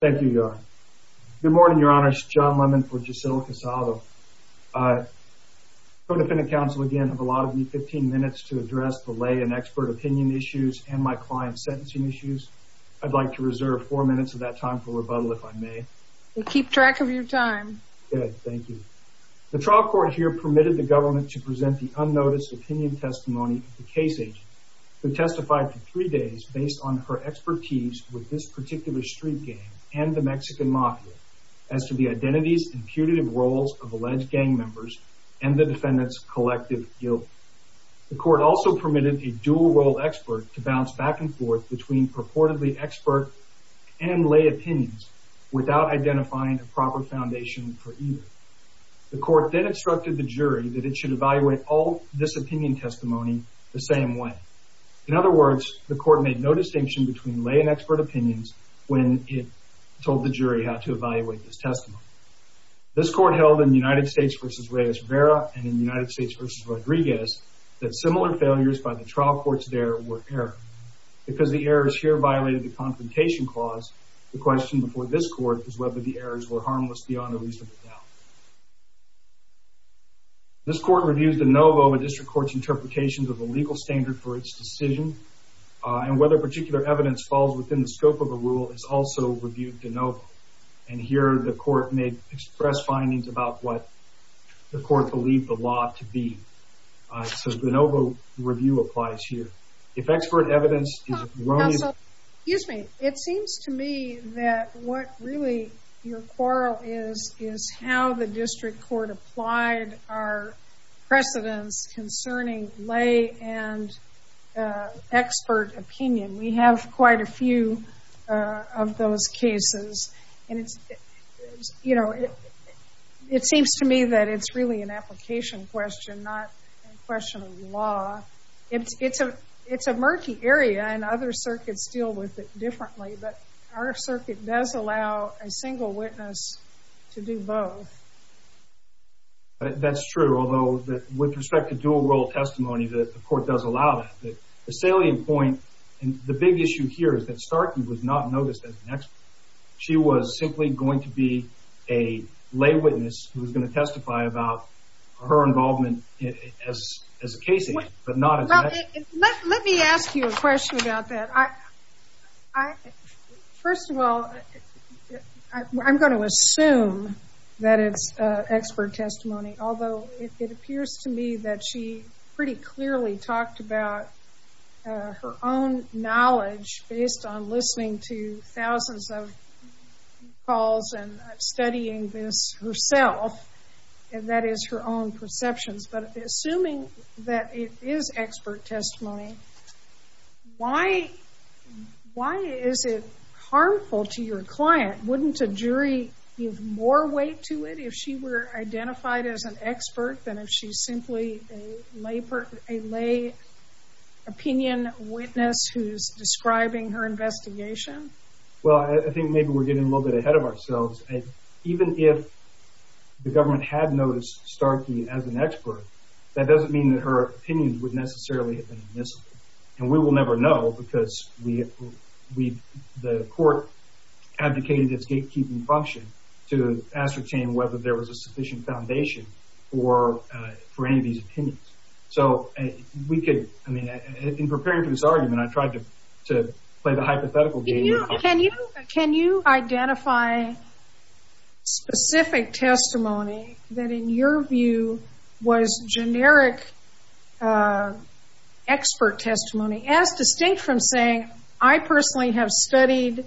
Thank you, Your Honor. Good morning, Your Honor. It's John Lemon for Jocelyn Casado. Co-Defendant Counsel, again, I have allotted you 15 minutes to address the lay and expert opinion issues and my client's sentencing issues. I'd like to reserve four minutes of that time for rebuttal, if I may. We'll keep track of your time. Good. Thank you. The trial court here permitted the government to present the unnoticed opinion testimony of the case agent who testified for three days based on her expertise with this particular street game and the Mexican mafia as to the identities and putative roles of alleged gang members and the defendant's collective guilt. The court also permitted a dual role expert to bounce back and forth between purportedly expert and lay opinions without identifying a proper foundation for either. The court then instructed the jury that it should evaluate all this opinion testimony the same way. In other words, the court made no distinction between lay and expert opinions when it told the jury how to evaluate this testimony. This court held in United States v. Reyes Rivera and in United States v. Rodriguez that similar failures by the trial courts there were error. Because the errors here violated the confrontation clause, the question before this court is whether the errors were harmless beyond a reasonable doubt. This court reviews de novo a district court's interpretations of the legal standard for its decision and whether particular evidence falls within the scope of a rule is also reviewed de novo. And here the court may express findings about what the court believed the law to be. So de novo review applies here. If expert evidence is wrong... Excuse me. It seems to me that what really your quarrel is is how the district court applied our precedence concerning lay and expert opinion. We have quite a few of those cases and it seems to me that it's really an application question, not a question of law. It's a murky area and other circuits deal with it differently, but our circuit does allow a single witness to do both. That's true, although with respect to dual role testimony the court does allow that. The salient point and the big issue here is that Starkey was not noticed as an expert. She was simply going to be a lay witness who was going to testify about her involvement as a case agent. Let me ask you a question about that. First of all, I'm going to assume that it's expert testimony, although it appears to me that she pretty clearly talked about her own knowledge based on listening to thousands of calls and studying this herself. And that is her own perceptions, but assuming that it is expert testimony, why is it harmful to your client? Wouldn't a jury give more weight to it if she were identified as an expert than if she's simply a lay opinion witness who's describing her investigation? Well, I think maybe we're getting a little bit ahead of ourselves. Even if the government had noticed Starkey as an expert, that doesn't mean that her opinions would necessarily have been admissible. And we will never know because the court advocated this gatekeeping function to ascertain whether there was a sufficient foundation for any of these opinions. So, in preparing for this argument, I tried to play the hypothetical game. Can you identify specific testimony that in your view was generic expert testimony, as distinct from saying, I personally have studied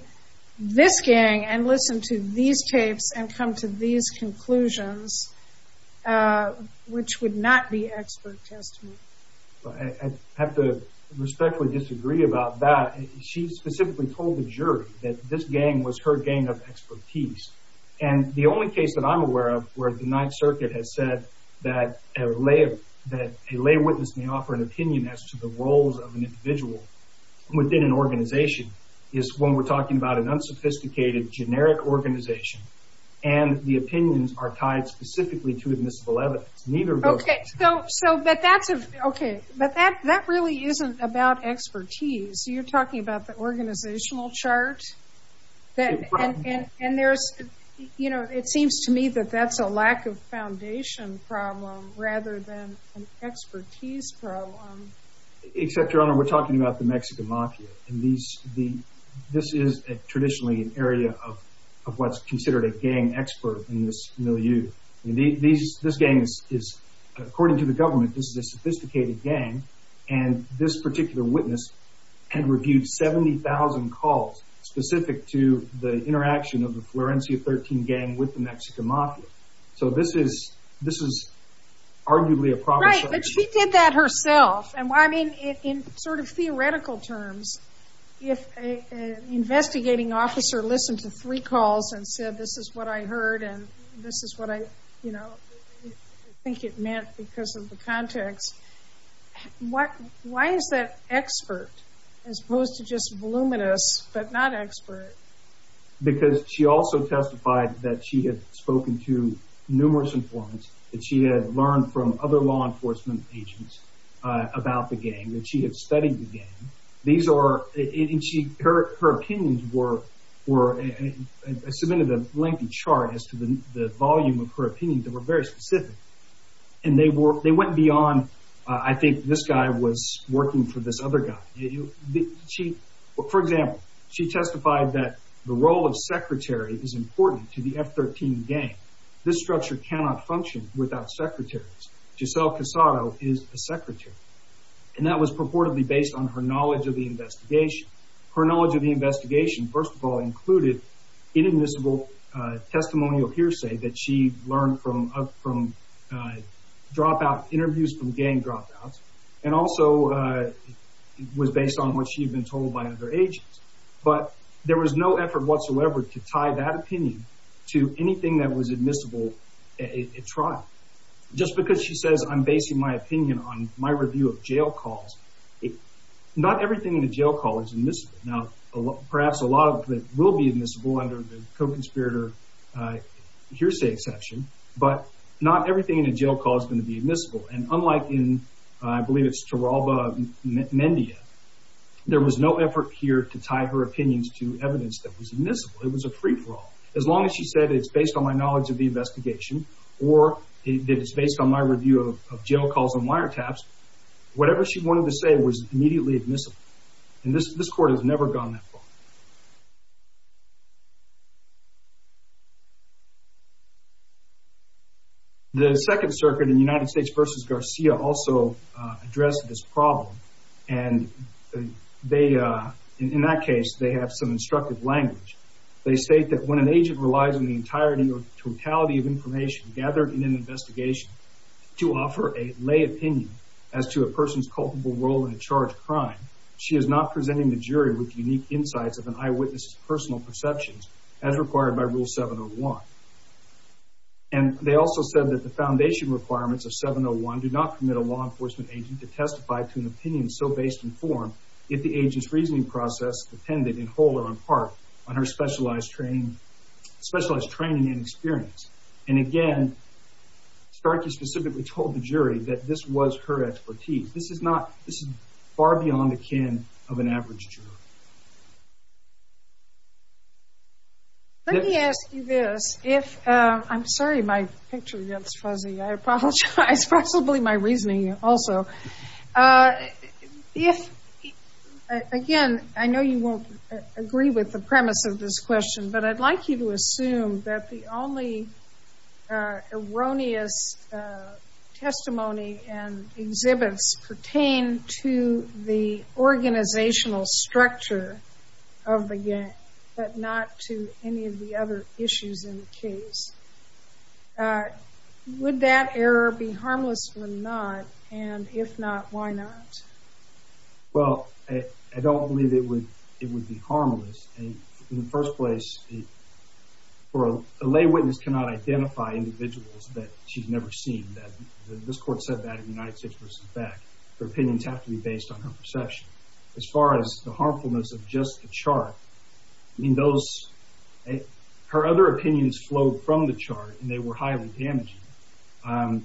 this gang and listened to these tapes and come to these conclusions, which would not be expert testimony. I have to respectfully disagree about that. She specifically told the jury that this gang was her gang of expertise. And the only case that I'm aware of where the Ninth Circuit has said that a lay witness may offer an opinion as to the roles of an individual within an organization is when we're talking about an unsophisticated, generic organization, and the opinions are tied specifically to admissible evidence. Okay, but that really isn't about expertise. You're talking about the organizational chart? It seems to me that that's a lack of foundation problem rather than an expertise problem. Except, Your Honor, we're talking about the Mexican mafia. This is traditionally an area of what's considered a gang expert in this milieu. This gang is, according to the government, this is a sophisticated gang. And this particular witness had reviewed 70,000 calls specific to the interaction of the Florencia 13 gang with the Mexican mafia. So this is arguably a provocation. Right, but she did that herself. In sort of theoretical terms, if an investigating officer listened to three calls and said, this is what I heard and this is what I think it meant because of the context, why is that expert as opposed to just voluminous but not expert? Because she also testified that she had spoken to numerous informants that she had learned from other law enforcement agents about the gang, that she had studied the gang. Her opinions were, I submitted a lengthy chart as to the volume of her opinions that were very specific. And they went beyond, I think this guy was working for this other guy. For example, she testified that the role of secretary is important to the F13 gang. This structure cannot function without secretaries. Giselle Casado is a secretary. And that was purportedly based on her knowledge of the investigation. Her knowledge of the investigation, first of all, included inadmissible testimonial hearsay that she learned from interviews from gang dropouts and also was based on what she had been told by other agents. But there was no effort whatsoever to tie that opinion to anything that was admissible at trial. Just because she says I'm basing my opinion on my review of jail calls, not everything in a jail call is admissible. Now, perhaps a lot of it will be admissible under the co-conspirator hearsay exception, but not everything in a jail call is going to be admissible. And unlike in, I believe it's Taralba Mendia, there was no effort here to tie her opinions to evidence that was admissible. It was a free-for-all. As long as she said it's based on my knowledge of the investigation or that it's based on my review of jail calls and wiretaps, whatever she wanted to say was immediately admissible. And this court has never gone that far. The Second Circuit in United States v. Garcia also addressed this problem. And they, in that case, they have some instructive language. They state that when an agent relies on the entirety or totality of information gathered in an investigation to offer a lay opinion as to a person's culpable role in a charged crime, she is not presenting the jury with unique insights or evidence. of an eyewitness's personal perceptions as required by Rule 701. And they also said that the foundation requirements of 701 do not permit a law enforcement agent to testify to an opinion so based in form if the agent's reasoning process depended in whole or in part on her specialized training and experience. And again, Starkey specifically told the jury that this was her expertise. This is far beyond the kin of an average juror. Let me ask you this. I'm sorry my picture gets fuzzy. I apologize. Possibly my reasoning also. If, again, I know you won't agree with the premise of this question, but I'd like you to assume that the only erroneous testimony and exhibits pertain to the organizational structure of the gang but not to any of the other issues in the case. Would that error be harmless or not? And if not, why not? Well, I don't believe it would be harmless. In the first place, a lay witness cannot identify individuals that she's never seen. This court said that in United States v. Beck. Her opinions have to be based on her perception. As far as the harmfulness of just the chart, her other opinions flowed from the chart and they were highly damaging. I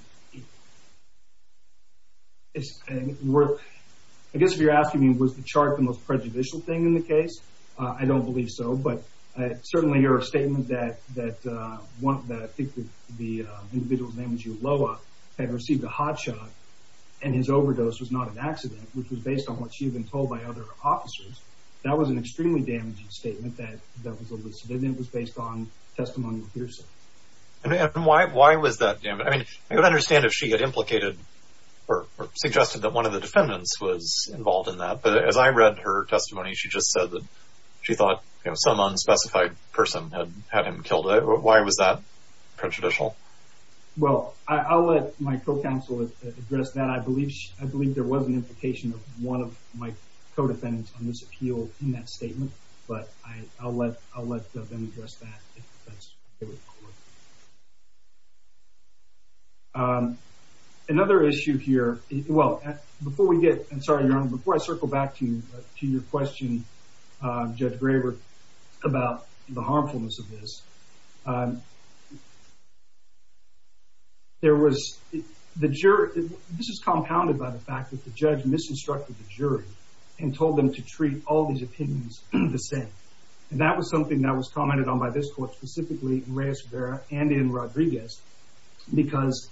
guess if you're asking me was the chart the most prejudicial thing in the case, I don't believe so, but certainly your statement that I think the individual's name was Ulloa had received a hot shot and his overdose was not an accident, which was based on what she had been told by other officers, that was an extremely damaging statement that was based on testimonial hearsay. And why was that? I mean, I don't understand if she had implicated or suggested that one of the defendants was involved in that, but as I read her testimony, she just said that she thought some unspecified person had had him killed. Why was that prejudicial? Well, I'll let my co-counsel address that. I believe there was an implication of one of my co-defendants on this appeal in that statement, but I'll let them address that. Another issue here, well, before we get, I'm sorry, Your Honor, before I circle back to your question, Judge Graber, about the harmfulness of this, there was, the jury, this is compounded by the fact that the judge misinstructed the jury and told them to treat all these opinions the same. And that was something that was commented on by this court, specifically in Reyes Rivera and in Rodriguez, because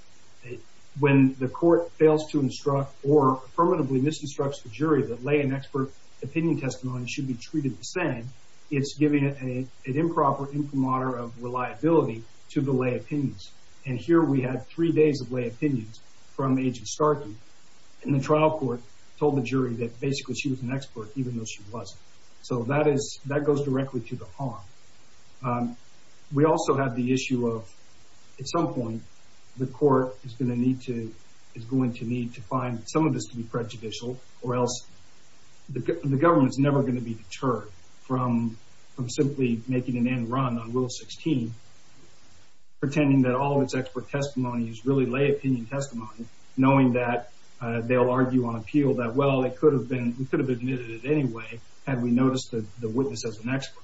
when the court fails to instruct or affirmatively misinstructs the jury that lay and expert opinion testimony should be treated the same, it's giving an improper imprimatur of reliability to the lay opinions. And here we had three days of lay opinions from Agent Starkey, and the trial court told the jury that basically she was an expert, even though she wasn't. So that goes directly to the harm. We also had the issue of, at some point, the court is going to need to find some of this to be prejudicial or else the government's never going to be deterred from simply making an end run on Rule 16, pretending that all of its expert testimony is really lay opinion testimony, knowing that they'll argue on appeal that, well, we could have admitted it anyway had we noticed the witness as an expert.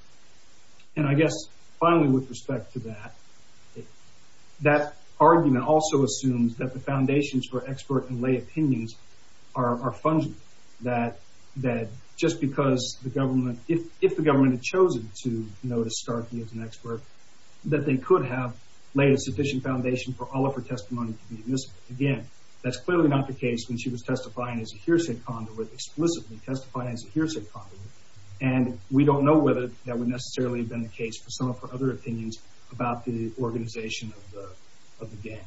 And I guess, finally, with respect to that, that argument also assumes that the foundations for expert and lay opinions are fungible, that just because the government, if the government had chosen to notice Starkey as an expert, that they could have laid a sufficient foundation for all of her testimony to be admissible. Again, that's clearly not the case when she was testifying as a hearsay conduit, explicitly testifying as a hearsay conduit, and we don't know whether that would necessarily have been the case for some of her other opinions about the organization of the gang.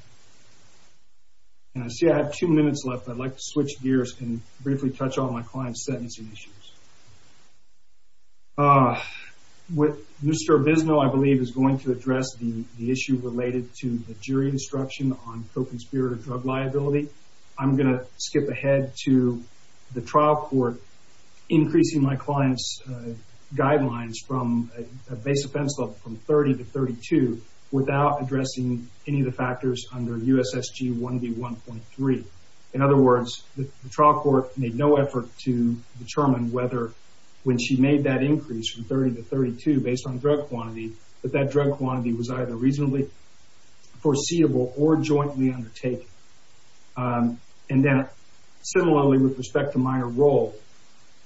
And I see I have two minutes left. I'd like to switch gears and briefly touch on my client's sentencing issues. Mr. Bisno, I believe, is going to address the issue related to the jury instruction on coping spirit of drug liability. I'm going to skip ahead to the trial court increasing my client's guidelines from a base offense level from 30 to 32 without addressing any of the factors under USSG 1B1.3. In other words, the trial court made no effort to determine whether when she made that increase from 30 to 32 based on drug quantity, that that drug quantity was either reasonably foreseeable or jointly undertaken. And then, similarly, with respect to minor role,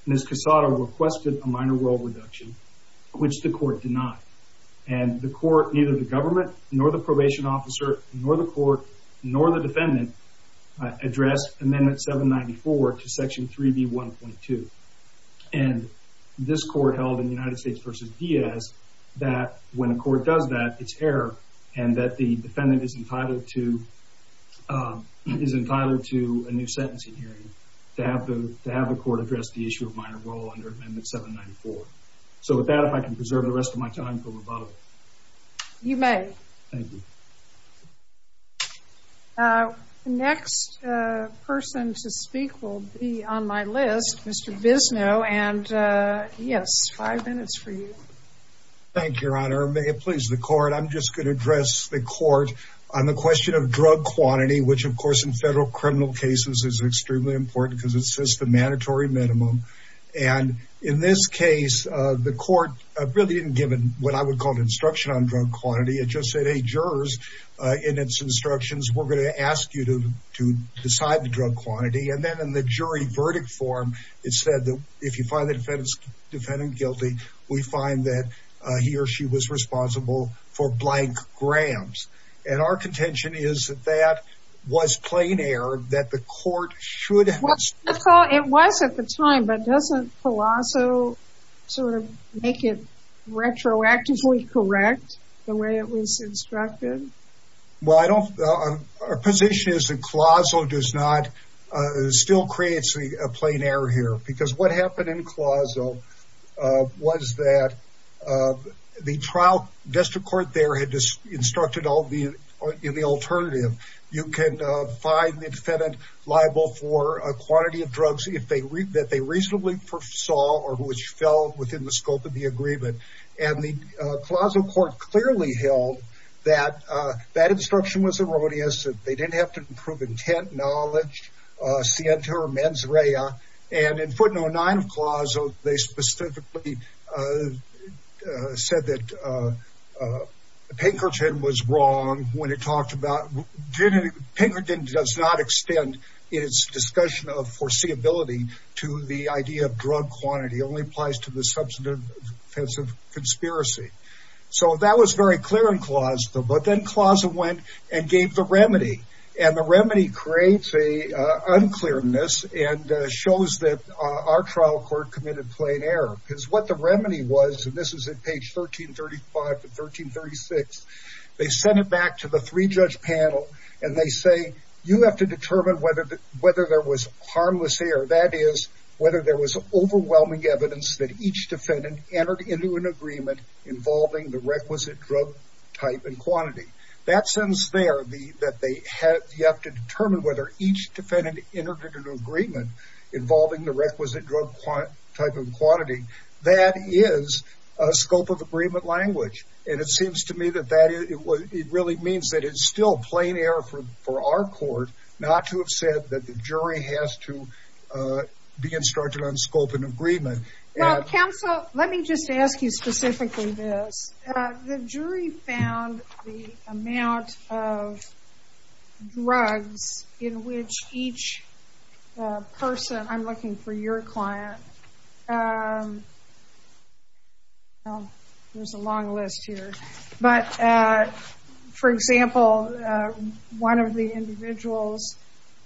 Ms. Quesada requested a minor role reduction, which the court denied. And the court, neither the government, nor the probation officer, nor the court, nor the defendant addressed Amendment 794 to Section 3B1.2. And this court held in United States v. Diaz that when a court does that, it's error, and that the defendant is entitled to a new sentencing hearing to have the court address the issue of minor role under Amendment 794. So with that, if I can preserve the rest of my time for rebuttal. You may. Thank you. The next person to speak will be on my list, Mr. Visno. And, yes, five minutes for you. Thank you, Your Honor. May it please the court. I'm just going to address the court on the question of drug quantity, which, of course, in federal criminal cases is extremely important because it sets the mandatory minimum. And in this case, the court really didn't give what I would call an instruction on drug quantity. It just said, hey, jurors, in its instructions, we're going to ask you to decide the drug quantity. And then in the jury verdict form, it said that if you find the defendant guilty, we find that he or she was responsible for blank grams. And our contention is that that was plain error, that the court should have... It was at the time, but doesn't Colosso sort of make it retroactively correct the way it was instructed? Well, I don't... Our position is that Colosso does not... still creates a plain error here because what happened in Colosso was that the trial district court there had instructed in the alternative, you can find the defendant liable for a quantity of drugs that they reasonably saw or which fell within the scope of the agreement. And the Colosso court clearly held that that instruction was erroneous, that they didn't have to prove intent, knowledge, scienter, mens rea. And in footnote 9 of Colosso, they specifically said that Pinkerton was wrong when it talked about... Pinkerton does not extend its discussion of foreseeability to the idea of drug quantity. It only applies to the substantive offensive conspiracy. So that was very clear in Colosso, but then Colosso went and gave the remedy. And the remedy creates a unclearness and shows that our trial court committed plain error. Because what the remedy was, and this is at page 1335 to 1336, they sent it back to the three-judge panel and they say, you have to determine whether there was harmless error. That is, whether there was overwhelming evidence that each defendant entered into an agreement involving the requisite drug type and quantity. That sentence there, that you have to determine whether each defendant entered into an agreement involving the requisite drug type and quantity, that is a scope of agreement language. And it seems to me that it really means that it's still plain error for our court not to have said that the jury has to be instructed on scope and agreement. Well, counsel, let me just ask you specifically this. The jury found the amount of drugs in which each person, I'm looking for your client, there's a long list here, but for example, one of the individuals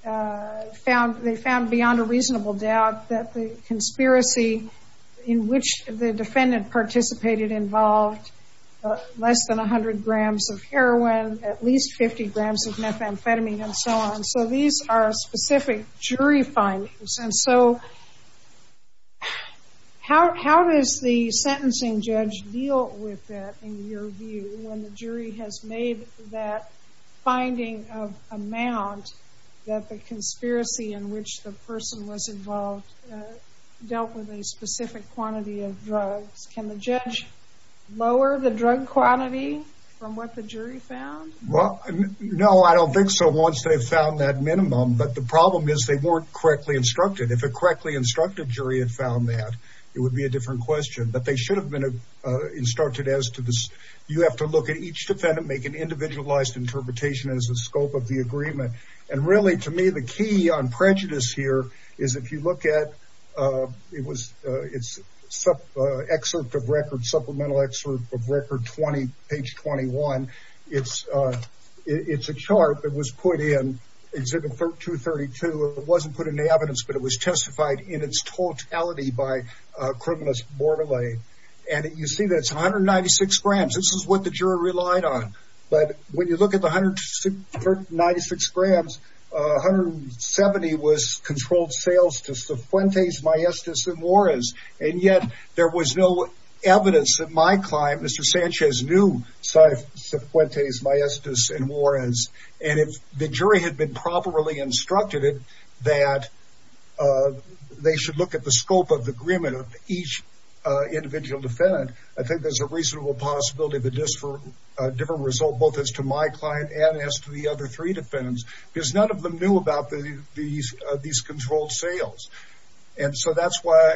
found, they found beyond a reasonable doubt that the conspiracy in which the defendant participated involved less than 100 grams of heroin, at least 50 grams of methamphetamine, and so on. So these are specific jury findings. And so how does the sentencing judge deal with that in your view when the jury has made that finding of amount that the conspiracy in which the person was involved dealt with a specific quantity of drugs? Can the judge lower the drug quantity from what the jury found? Well, no, I don't think so once they've found that minimum. But the problem is they weren't correctly instructed. If a correctly instructed jury had found that, it would be a different question. But they should have been instructed as to this. You have to look at each defendant, make an individualized interpretation as the scope of the agreement. And really, to me, the key on prejudice here is if you look at, it's an excerpt of record, supplemental excerpt of record 20, page 21. It's a chart that was put in, it's in 232. It wasn't put in the evidence, but it was testified in its totality by criminalist Bordelais. And you see that's 196 grams. This is what the jury relied on. But when you look at the 196 grams, 170 was controlled sales to Cifuentes, Maestas, and Juarez. And yet, there was no evidence that my client, Mr. Sanchez, knew Cifuentes, Maestas, and Juarez. And if the jury had been properly instructed that they should look at the scope of the agreement of each individual defendant, I think there's a reasonable possibility of a different result, both as to my client and as to the other three defendants. Because none of them knew about these controlled sales. And so that's why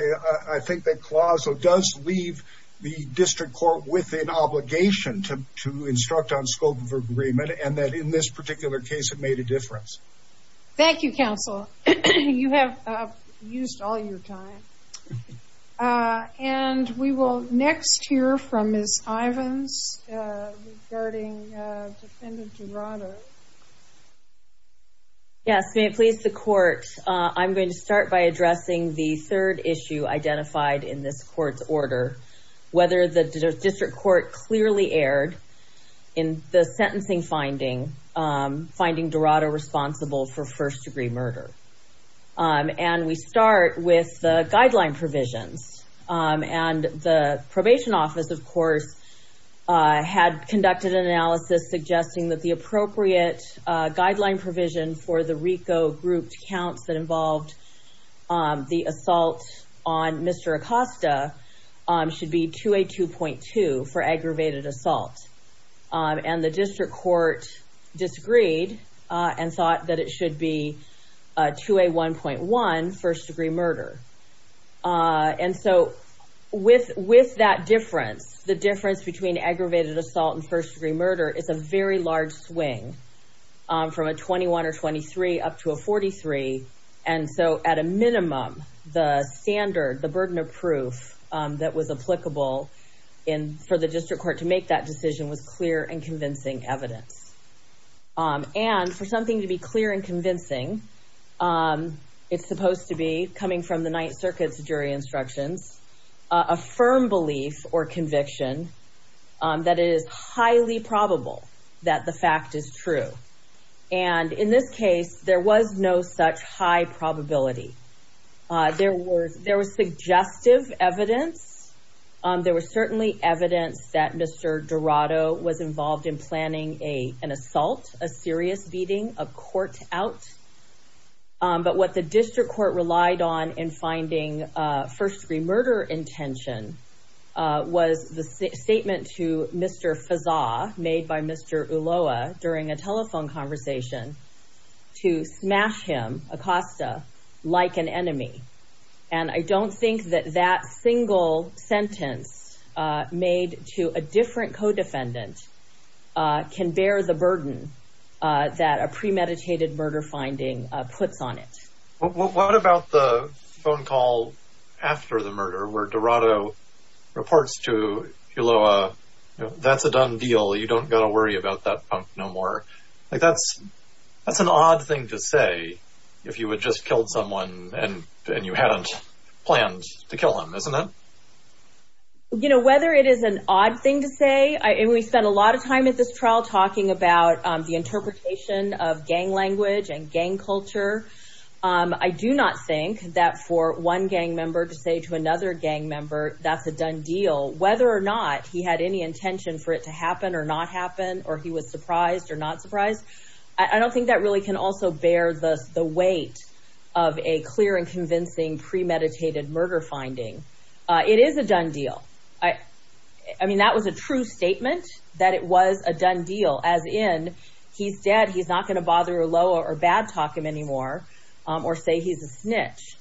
I think that CLAWSO does leave the district court with an obligation to instruct on scope of agreement and that in this particular case, it made a difference. Thank you, counsel. You have used all your time. And we will next hear from Ms. Ivins regarding Defendant Jurado. Yes, may it please the court, I'm going to start by addressing the third issue identified in this court's order, whether the district court clearly erred in the sentencing finding, finding Jurado responsible for first-degree murder. And we start with the guideline provisions. And the probation office, of course, had conducted an analysis suggesting that the appropriate guideline provision for the RICO grouped counts that involved the assault on Mr. Acosta should be 2A2.2 for aggravated assault. And the district court disagreed and thought that it should be 2A1.1, first-degree murder. And so with that difference, the difference between aggravated assault and first-degree murder was a large swing from a 21 or 23 up to a 43. And so at a minimum, the standard, the burden of proof that was applicable for the district court to make that decision was clear and convincing evidence. And for something to be clear and convincing, it's supposed to be, coming from the Ninth Circuit's jury instructions, a firm belief or conviction that it is highly probable that the fact is true. And in this case, there was no such high probability. There was suggestive evidence. There was certainly evidence that Mr. Jurado was involved in planning an assault, a serious beating, a court out. But what the district court relied on in finding first-degree murder intention was the statement to Mr. Fazza, made by Mr. Ulloa during a telephone conversation, to smash him, Acosta, like an enemy. And I don't think that that single sentence made to a different co-defendant can bear the burden that a premeditated murder finding puts on it. What about the phone call after the murder where Jurado reports to Ulloa, that's a done deal, you don't got to worry about that punk no more. That's an odd thing to say if you had just killed someone and you hadn't planned to kill him, isn't it? You know, whether it is an odd thing to say, and we spent a lot of time at this trial talking about the interpretation of gang language and gang culture, I do not think that for one gang member to say to another gang member that's a done deal, whether or not he had any intention for it to happen or not happen, or he was surprised or not surprised, I don't think that really can also bear the weight of a clear and convincing premeditated murder finding. It is a done deal. I mean, that was a true statement, that it was a done deal, as in, he's dead, he's not going to bother Ulloa or bad talk him anymore, or say he's a snitch.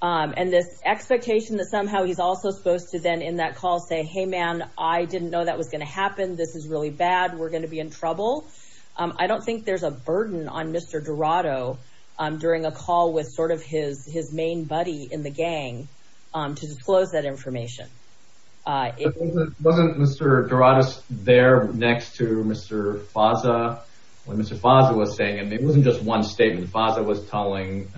And this expectation that somehow he's also supposed to then, in that call, say, hey man, I didn't know that was going to happen, this is really bad, we're going to be in trouble, I don't think there's a burden on Mr. Dorado during a call with sort of his main buddy in the gang to disclose that information. Wasn't Mr. Dorado there next to Mr. Faza, what Mr. Faza was saying? I mean, it wasn't just one statement. I mean, Faza was telling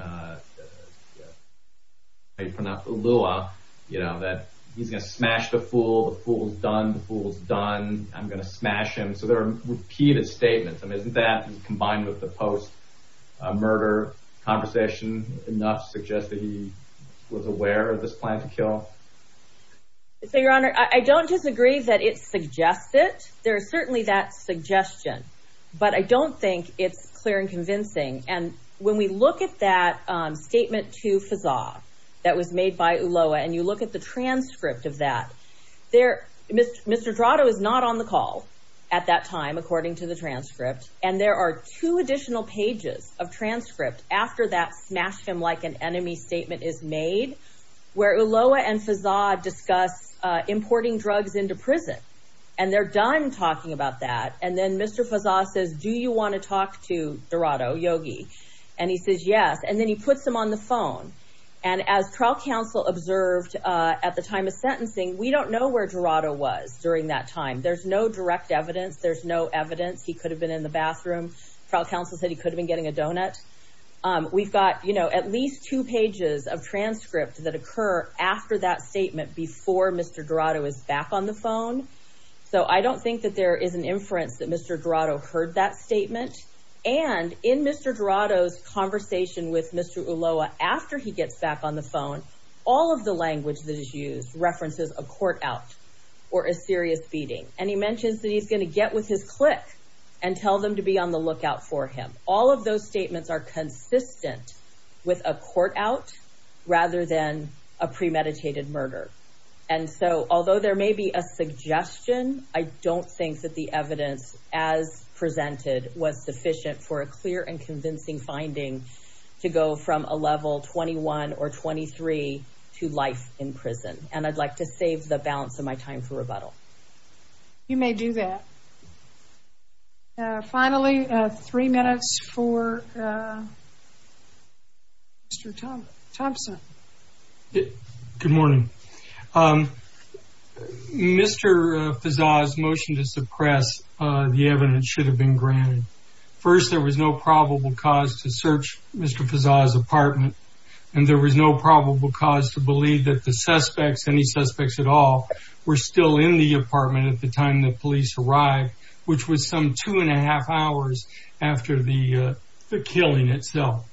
Ulloa that he's going to smash the fool, the fool's done, the fool's done, I'm going to smash him. So there are repeated statements. I mean, isn't that, combined with the post-murder conversation, enough to suggest that he was aware of this plan to kill? So, Your Honor, I don't disagree that it suggests it. There is certainly that suggestion. But I don't think it's clear and convincing. When we look at that statement to Faza that was made by Ulloa, and you look at the transcript of that, Mr. Dorado is not on the call at that time, according to the transcript, and there are two additional pages of transcript after that smash him like an enemy statement is made, where Ulloa and Faza discuss importing drugs into prison. And they're done talking about that, and then Mr. Faza says, do you want to talk to Dorado Yogi? And he says yes, and then he puts him on the phone. And as trial counsel observed at the time of sentencing, we don't know where Dorado was during that time. There's no direct evidence. There's no evidence he could have been in the bathroom. Trial counsel said he could have been getting a donut. We've got, you know, at least two pages of transcript that occur after that statement before Mr. Dorado is back on the phone. So I don't think that there is an inference that Mr. Dorado heard that statement. And in Mr. Dorado's conversation with Mr. Ulloa after he gets back on the phone, all of the language that is used references a court out or a serious beating. And he mentions that he's going to get with his click and tell them to be on the lookout for him. All of those statements are consistent with a court out rather than a premeditated murder. And so although there may be a suggestion, I don't think that the evidence as presented was sufficient for a clear and convincing finding to go from a level 21 or 23 to life in prison. And I'd like to save the balance of my time for rebuttal. You may do that. Finally, three minutes for Mr. Thompson. Good morning. Mr. Fezzah's motion to suppress the evidence should have been granted. First, there was no probable cause to search Mr. Fezzah's apartment. And there was no probable cause to believe that the suspects, any suspects at all, were still in the apartment at the time the police arrived, which was some two and a half hours after the killing itself.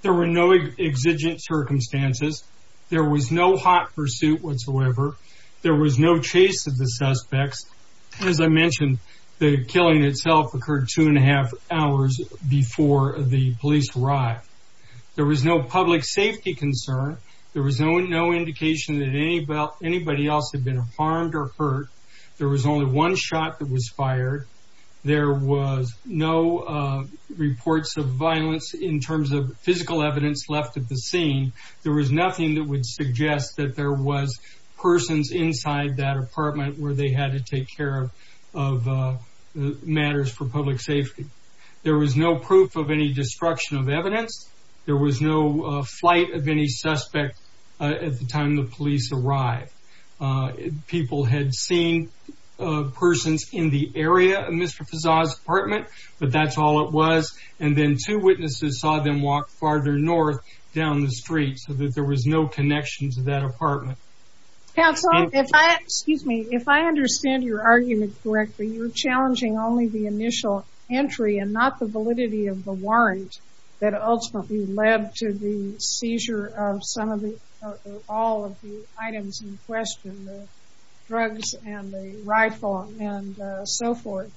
There were no exigent circumstances. There was no hot pursuit whatsoever. There was no chase of the suspects. As I mentioned, the killing itself occurred two and a half hours before the police arrived. There was no public safety concern. There was no indication that anybody else had been harmed or hurt. There was only one shot that was fired. There was no reports of violence in terms of physical evidence left at the scene. There was nothing that would suggest that there was persons inside that apartment where they had to take care of matters for public safety. There was no proof of any destruction of evidence. There was no flight of any suspect at the time the police arrived. People had seen persons in the area of Mr. Fezzah's apartment, but that's all it was. And then two witnesses saw them walk farther north down the street so that there was no connection to that apartment. Counsel, if I understand your argument correctly, you're challenging only the initial entry and not the validity of the warrant that ultimately led to the seizure of all of the items in question, the drugs and the rifle and so forth.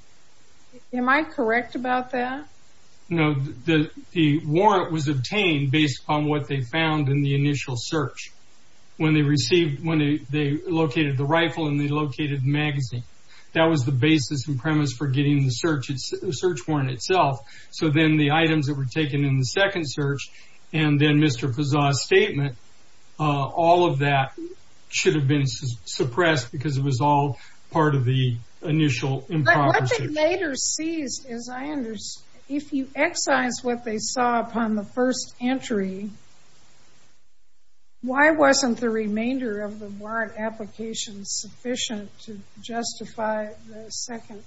Am I correct about that? No. The warrant was obtained based upon what they found in the initial search. When they located the rifle and they located the magazine, that was the basis and premise for getting the search warrant itself. So then the items that were taken in the second search and then Mr. Fezzah's statement, all of that should have been suppressed because it was all part of the initial improperty. What they later seized is, if you excise what they saw upon the first entry, why wasn't the remainder of the warrant application sufficient to justify the second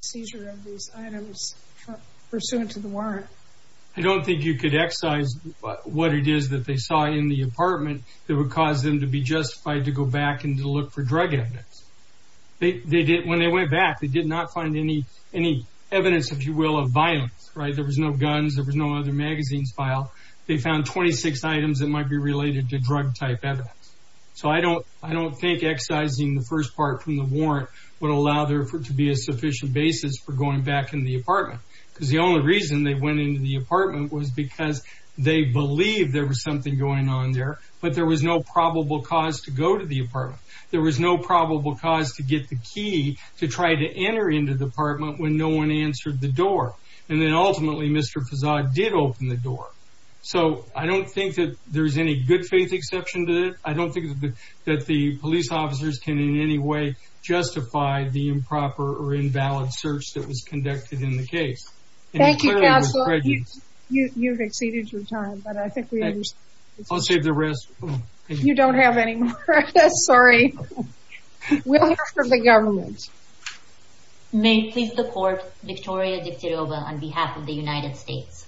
seizure of these items pursuant to the warrant? I don't think you could excise what it is that they saw in the apartment that would cause them to be justified to go back and to look for drug evidence. When they went back, they did not find any evidence, if you will, of violence. There were no guns, there were no other magazines filed. They found 26 items that might be related to drug-type evidence. So I don't think excising the first part from the warrant would allow there to be a sufficient basis for going back into the apartment. Because the only reason they went into the apartment was because they believed there was something going on there, but there was no probable cause to go to the apartment. There was no probable cause to get the key to try to enter the apartment when no one answered the door. And then ultimately, Mr. Fazard did open the door. So I don't think that there's any good faith exception to that. I don't think that the police officers can in any way justify the improper or invalid search that was conducted in the case. Thank you, Counselor. You've exceeded your time. I'll save the rest. You don't have any more. Sorry. We'll hear from the government. May it please the Court, Victoria Dix-de-Rova, on behalf of the United States.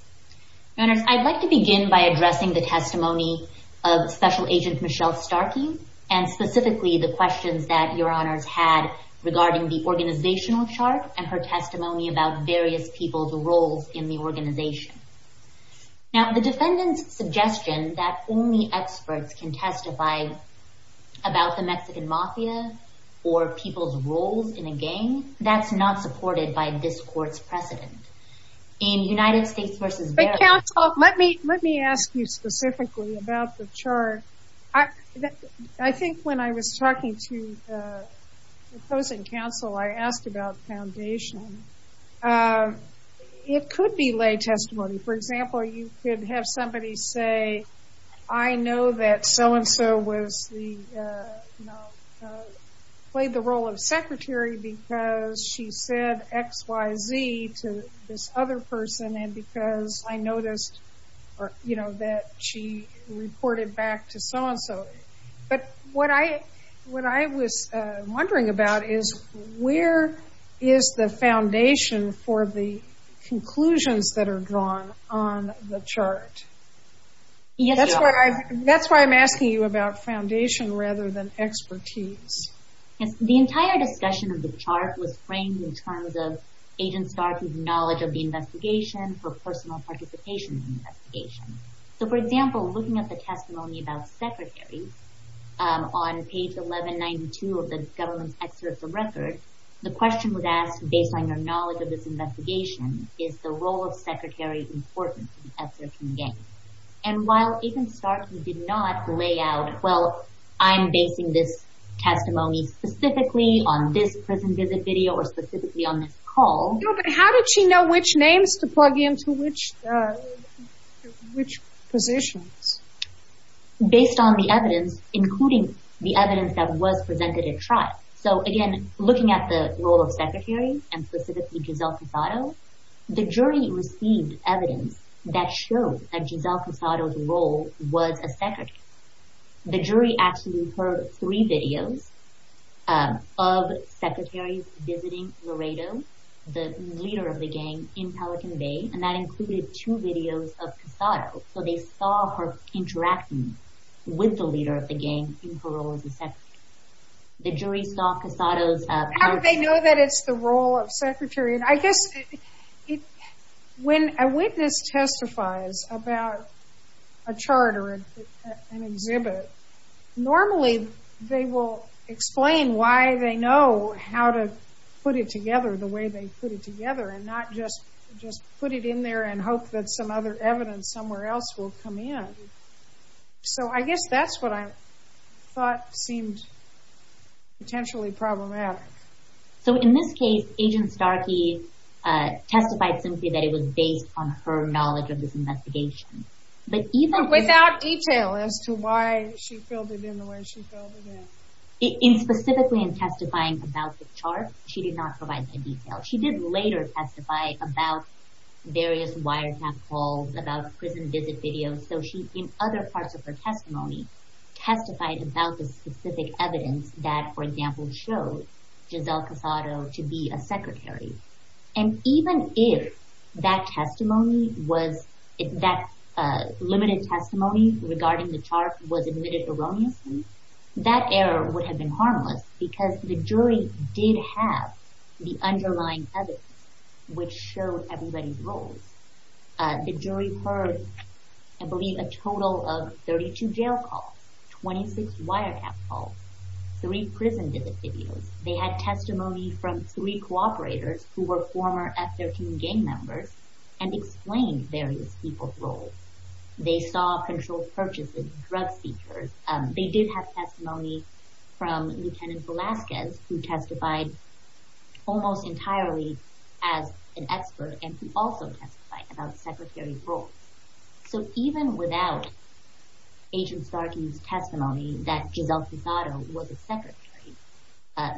Your Honors, I'd like to begin by addressing the testimony of Special Agent Michelle Starkey and specifically the questions that Your Honors had regarding the organizational chart and her testimony about various people's roles in the organization. Now, the defendant's suggestion that only experts can testify about the Mexican Mafia or people's roles in a gang, that's not supported by this Court's precedent. In United States v. Beck... But, Counsel, let me ask you specifically about the chart. I think when I was talking to the opposing counsel, I asked about foundation. It could be lay testimony. For example, you could have somebody say, I know that so-and-so played the role of secretary because she said X, Y, Z to this other person and because I noticed that she reported back to so-and-so. But what I was wondering about is where is the foundation for the conclusions that are drawn on the chart? That's why I'm asking you about foundation. The entire discussion of the chart was framed in terms of Agent Starkey's knowledge of the investigation for personal participation in the investigation. So, for example, looking at the testimony about secretary on page 1192 of the government's excerpt of record, the question was asked based on your knowledge of this investigation, is the role of secretary important to the excerpt from the game? And while Agent Starkey did not lay out, well, I'm basing this testimony specifically on this prison visit video or specifically on this call... No, but how did she know which names to plug into which positions? Based on the evidence, including the evidence that was presented at trial. So, again, looking at the jury received evidence that showed that Giselle Casado's role was a secretary. The jury actually heard three videos of secretaries visiting Laredo, the leader of the gang, in Pelican Bay, and that included two videos of Casado. So they saw her interacting with the leader of the gang in her role as a secretary. How did they know when a witness testifies about a chart or an exhibit, normally they will explain why they know how to put it together the way they put it together and not just put it in there and hope that some other evidence somewhere else will come in. So I guess that's what I thought seemed potentially problematic. So in this case, Agent Starkey testified simply that it was based on her knowledge of this investigation. But even without detail as to why she filled it in the way she filled it in. Specifically in testifying about the chart, she did not provide that detail. She did later testify about various wiretap calls, So she in other parts of her testimony testified about the specific evidence that, for example, if that testimony was, if that limited testimony regarding the chart was admitted erroneously, that error would have been harmless because the jury did have the underlying evidence which showed everybody's roles. The jury heard I believe a total of 32 jail calls, 26 wiretap calls, 3 prison visit videos. They had testimony from 3 cooperators who were team members and explained various people's roles. They saw controlled purchases, drug seekers. They did have testimony from Lieutenant Velasquez who testified almost entirely as an expert and who also testified about the secretary's roles. So even without Agent Starkey's testimony that Giselle Pisado was a secretary,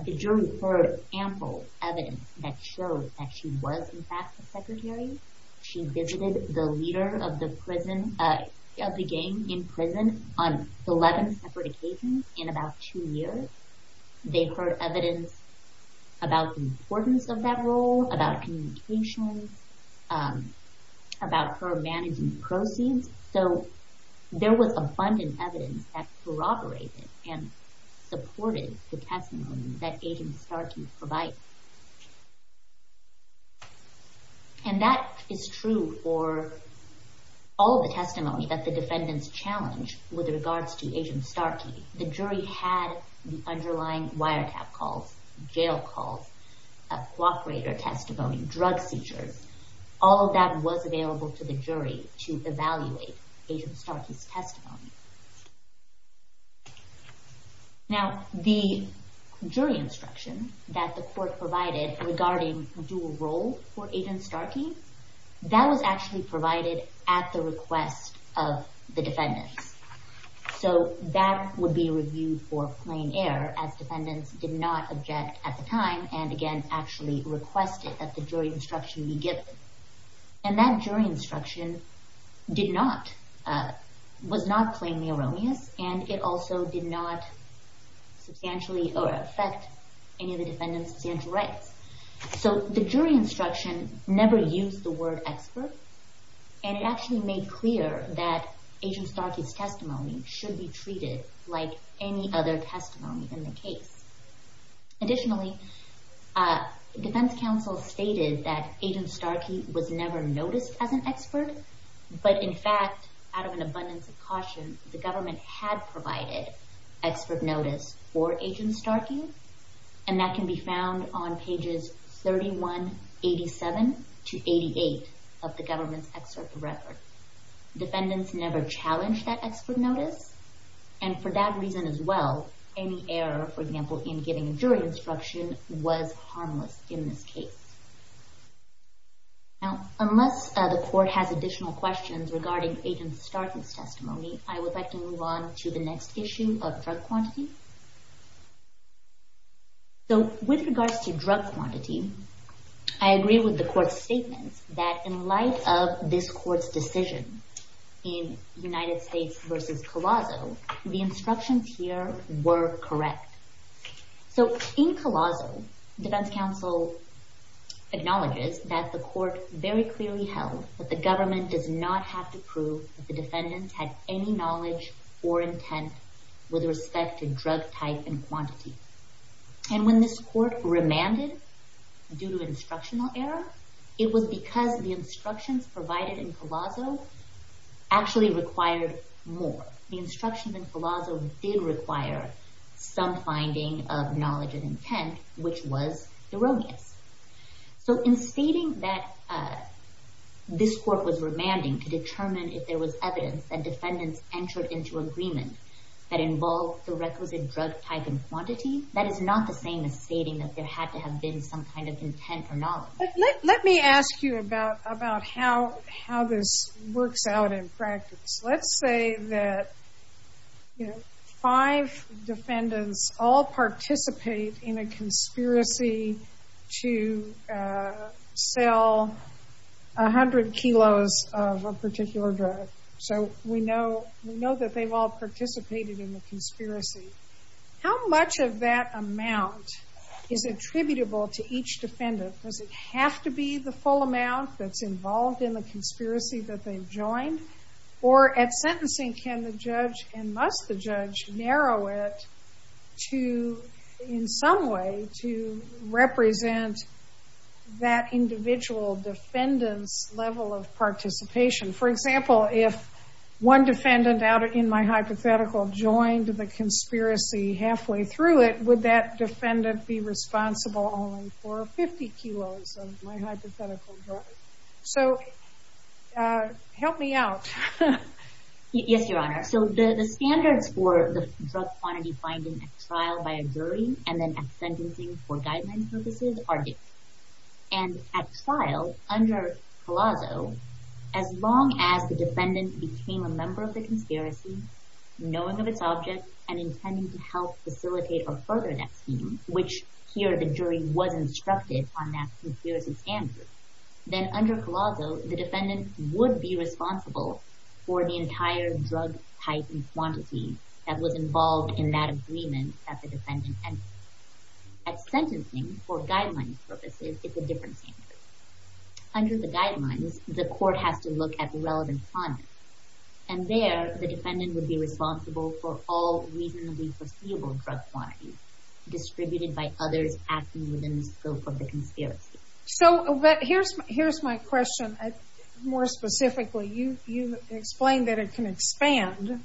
the jury heard ample evidence that showed that she was a good secretary. She visited the leader of the gang in prison on 11 separate occasions in about 2 years. They heard evidence about the importance of that role, about communications, about her managing proceeds. So there was abundant evidence that corroborated and supported the testimony that Agent Starkey provides. And that is true for all of the testimony that the defendants challenge with regards to Agent Starkey. The jury had the underlying wiretap calls, jail calls, cooperator testimony, drug seizures. All of that was available to the jury to evaluate Agent Starkey's testimony. Now, the jury instruction that the court provided regarding dual role of Agent Starkey, that was actually provided at the request of the defendants. So that would be a review for plain error, as defendants did not object at the time and again actually requested that the jury instruction be given. And that jury instruction did not, was not plainly erroneous and it also did not use the word expert. And it actually made clear that Agent Starkey's testimony should be treated like any other testimony in the case. Additionally, defense counsel stated that Agent Starkey was never noticed as an expert, but in fact, out of an abundance of caution, the government had provided expert notice for Agent Starkey. And that can be found on pages 3187 to 88 of the government's excerpt record. Defendants never challenged that expert notice and for that reason as well, any error, for example, in giving a jury instruction was harmless in this case. Now, unless the court has additional questions regarding Agent Starkey's testimony, I would like to move on to the next issue So, with regards to drug quantity, I agree with the court's statement that in light of this court's decision in United States v. Colosso, the instructions here were correct. So, in Colosso, defense counsel acknowledges that the court very clearly held that the government does not have to prove that the defendants had any knowledge or intent with respect to drug type and quantity. And when this court remanded due to instructional error, it was because the instructions provided in Colosso actually required more. The instructions in Colosso did require some finding of knowledge and intent, which was erroneous. So, in stating that this court was remanding to determine if there was evidence that defendants entered into agreement that involved the requisite drug type and quantity, it's not the same as stating that there had to have been some kind of intent or knowledge. Let me ask you about how this works out in practice. Let's say that five defendants all participate in a conspiracy to sell 100 kilos of a particular drug. So, we know that they've all participated in the conspiracy. Does the full amount is attributable to each defendant? Does it have to be the full amount that's involved in the conspiracy that they've joined? Or, at sentencing, can the judge and must the judge narrow it to, in some way, to represent that individual defendant's level of participation? For example, if one defendant, in my hypothetical, can that defendant be responsible only for 50 kilos of my hypothetical drug? So, help me out. Yes, Your Honor. So, the standards for the drug quantity finding at trial by a jury and then at sentencing are different. And, at trial, under Palazzo, as long as the defendant which, here, the jury was instructed on that conspiracy standard, then, under Palazzo, the defendant would be responsible for the entire drug type and quantity that was involved in that agreement that the defendant entered. At sentencing, for guidelines purposes, it's a different standard. Under the guidelines, the court has to look at relevant content. And there, the defendant would be responsible for all reasonably foreseeable drug quantities distributed by others acting within the scope of the conspiracy. So, here's my question. More specifically, you explained that it can expand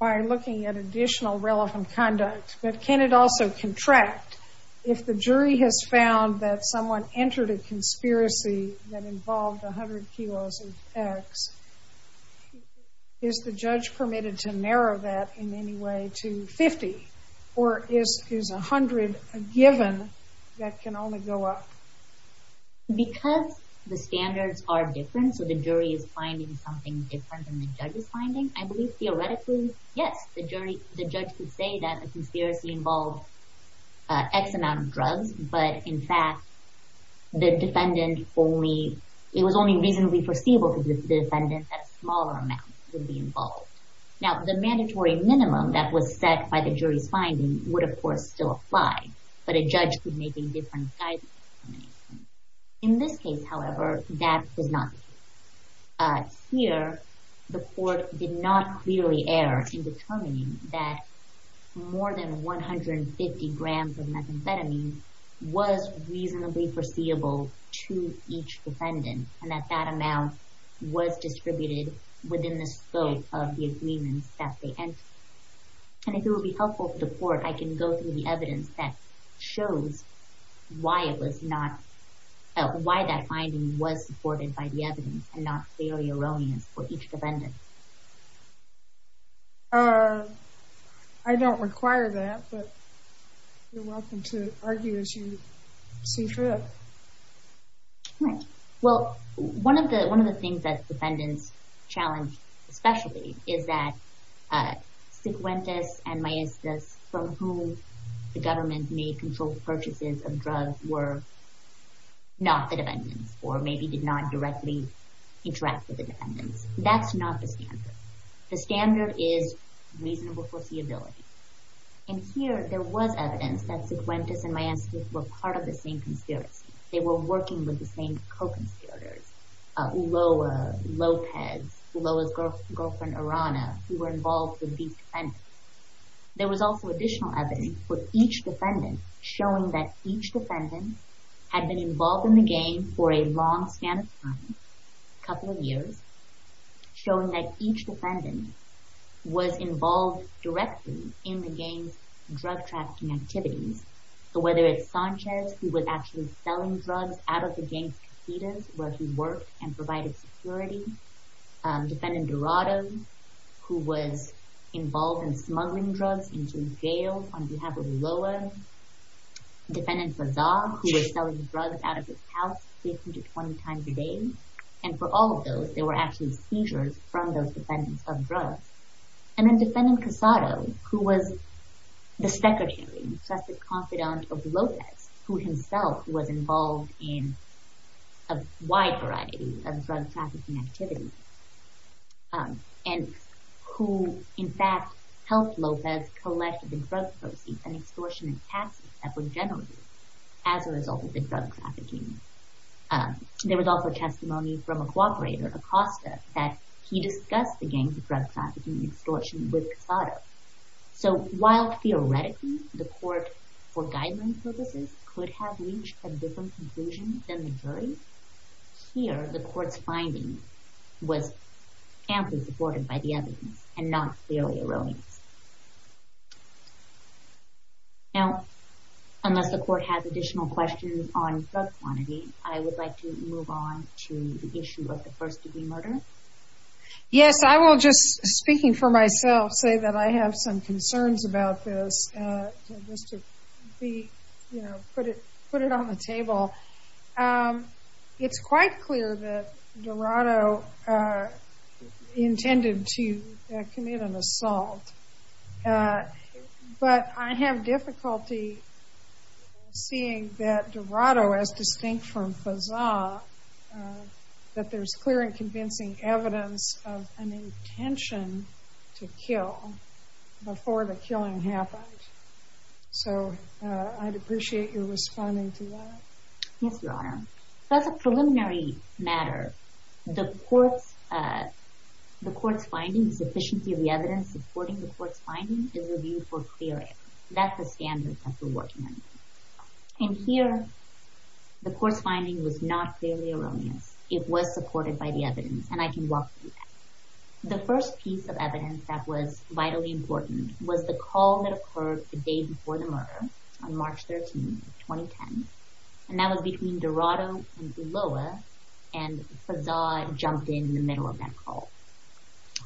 by looking at additional relevant conduct. But can it also contract? If the jury has found that someone entered a conspiracy that involved 100 kilos of X, is the judge permitted to narrow that in any way to 50? Or is 100 a given that can only go up? Because the standards are different, so the jury is finding something different than the judge is finding, I believe, theoretically, yes, the judge could say that the conspiracy involved X amount of drugs, but, in fact, it was only reasonably foreseeable for the defendant that smaller amounts would be involved. Now, the mandatory minimum that the jury is finding would, of course, still apply, but a judge could make a different judgment. In this case, however, that does not. Here, the court did not clearly err in determining that more than 150 grams of methamphetamine was reasonably foreseeable to each defendant, and that that amount was distributed within the scope of the court. I can go through the evidence that shows why it was not, why that finding was supported by the evidence and not clearly erroneous for each defendant. I don't require that, but you're welcome to argue as you see fit. Right. Well, one of the things that defendants challenge especially is that Següentes and Maestas from whom the government made controlled purchases of drugs were not the defendants or maybe did not directly interact with the defendants. That's not the standard. The standard is reasonable foreseeability, and here there was evidence that Següentes and Maestas were part of the same conspiracy. They were working with the same co-conspirators, Ulloa, Lopez, there was also additional evidence for each defendant showing that each defendant had been involved in the game for a long span of time, a couple of years, showing that each defendant was involved directly in the game's drug trafficking activities. So whether it's Sanchez who was actually selling drugs out of the game's casinos where he worked and provided security, defendant Dorado who was involved in smuggling drugs into jail on behalf of Ulloa, defendant Bazard who was selling drugs out of his house 15 to 20 times a day, and for all of those there were actually seizures from those defendants of drugs, and then defendant Casado who was the secretary, trusted confidant of Lopez who himself was involved in a wide variety of drug trafficking activities. And who in fact helped Lopez collect the drug proceeds and extortion and taxes that were generated as a result of the drug trafficking. There was also testimony from a cooperator, Acosta, that he discussed the gang's drug trafficking extortion with Casado. So while theoretically the court for guideline purposes could have reached a different conclusion than the jury, here the court's finding was supported by the evidence and not clearly erroneous. Now, unless the court has additional questions on drug quantity, I would like to move on to the issue of the first degree murder. Yes, I will just, speaking for myself, say that I have some concerns about this. Just to be, you know, put it on the table. It's quite clear that Dorado attempted to commit an assault. But I have difficulty seeing that Dorado, as distinct from Faza, that there's clear and convincing evidence of an intention to kill before the killing happened. So I'd appreciate your responding to that. Yes, Your Honor. That's a preliminary matter. The court's finding, the sufficiency of the evidence supporting the court's finding is reviewed for clear evidence. That's the standard that we're working under. And here, the court's finding was not clearly erroneous. It was supported by the evidence and I can walk through that. The first piece of evidence that was vitally important was the call that occurred the day before the murder on March 13, 2010. And that was between Dorado and Ulloa and Faza jumped in So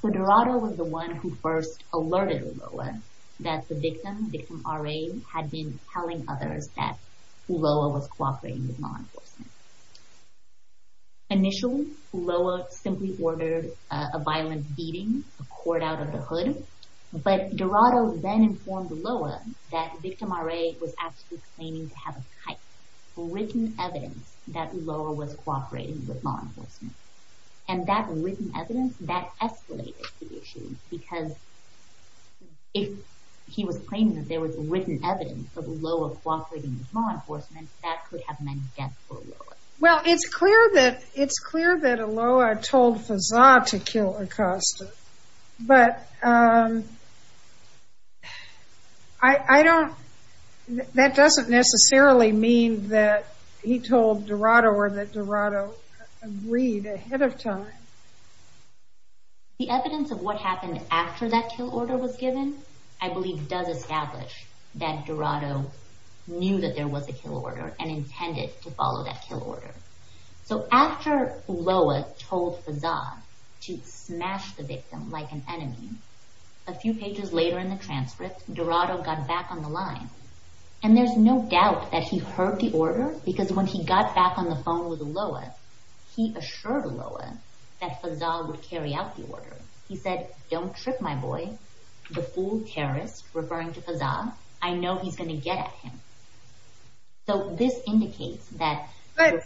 Dorado was the one who first alerted Ulloa that the victim, victim RA, had been telling others that Ulloa was cooperating with law enforcement. Initially, Ulloa simply ordered a violent beating, a cord out of the hood. But Dorado then informed Ulloa that victim RA was actually claiming to have a type, written evidence, that Ulloa was cooperating with law enforcement. Because if he was claiming that there was written evidence that Ulloa was cooperating with law enforcement, that could have meant death for Ulloa. Well, it's clear that, it's clear that Ulloa told Faza to kill Acosta. But, um, I, I don't, that doesn't necessarily mean that he told Dorado or that Dorado agreed ahead of time. The evidence of what happened after that kill order was given, I believe does establish that Dorado knew that there was a kill order and intended to follow that kill order. So after Ulloa told Faza to smash the victim like an enemy, a few pages later in the transcript, Dorado got back on the line. And there's no doubt that he heard the order because when he got back on the phone with Ulloa, he assured Ulloa that Faza would carry out the order. He said, don't trip my boy. The fool terrorist referring to Faza, I know he's going to get at him. So this indicates that... But,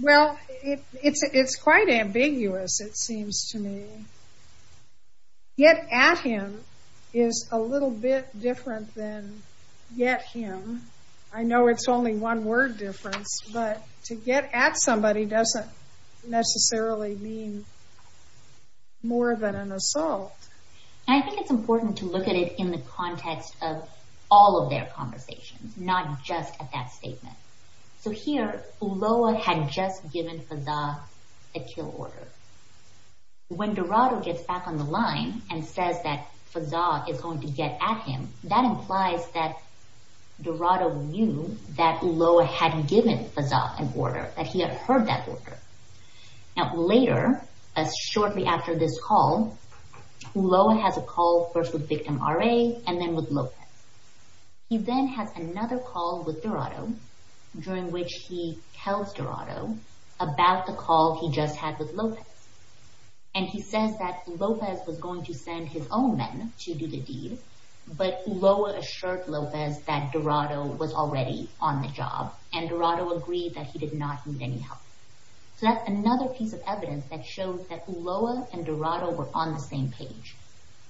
well, it's quite ambiguous, it seems to me. Get at him is a little bit different than get him. I know it's only one word difference, but to get at somebody doesn't necessarily mean more than an assault. And I think it's important to look at it in the context of all of their conversations, not just at that statement. So here, Ulloa had just given Faza a kill order. When Dorado gets back on the line and says that Faza is going to get at him, that implies that Dorado knew that Ulloa had given Faza an order, that he had heard that order. Now, later, shortly after this call, Ulloa has a call first with Victim RA and then with Lopez. He then has another call with Dorado, during which he tells Dorado about the call he just had with Lopez. And he says that Lopez was going to send his own men to do the deed, but Ulloa assured Lopez that Dorado was already on the job, and Dorado agreed that he did not need any help. So that's another piece of evidence that shows that Ulloa and Dorado were on the same page.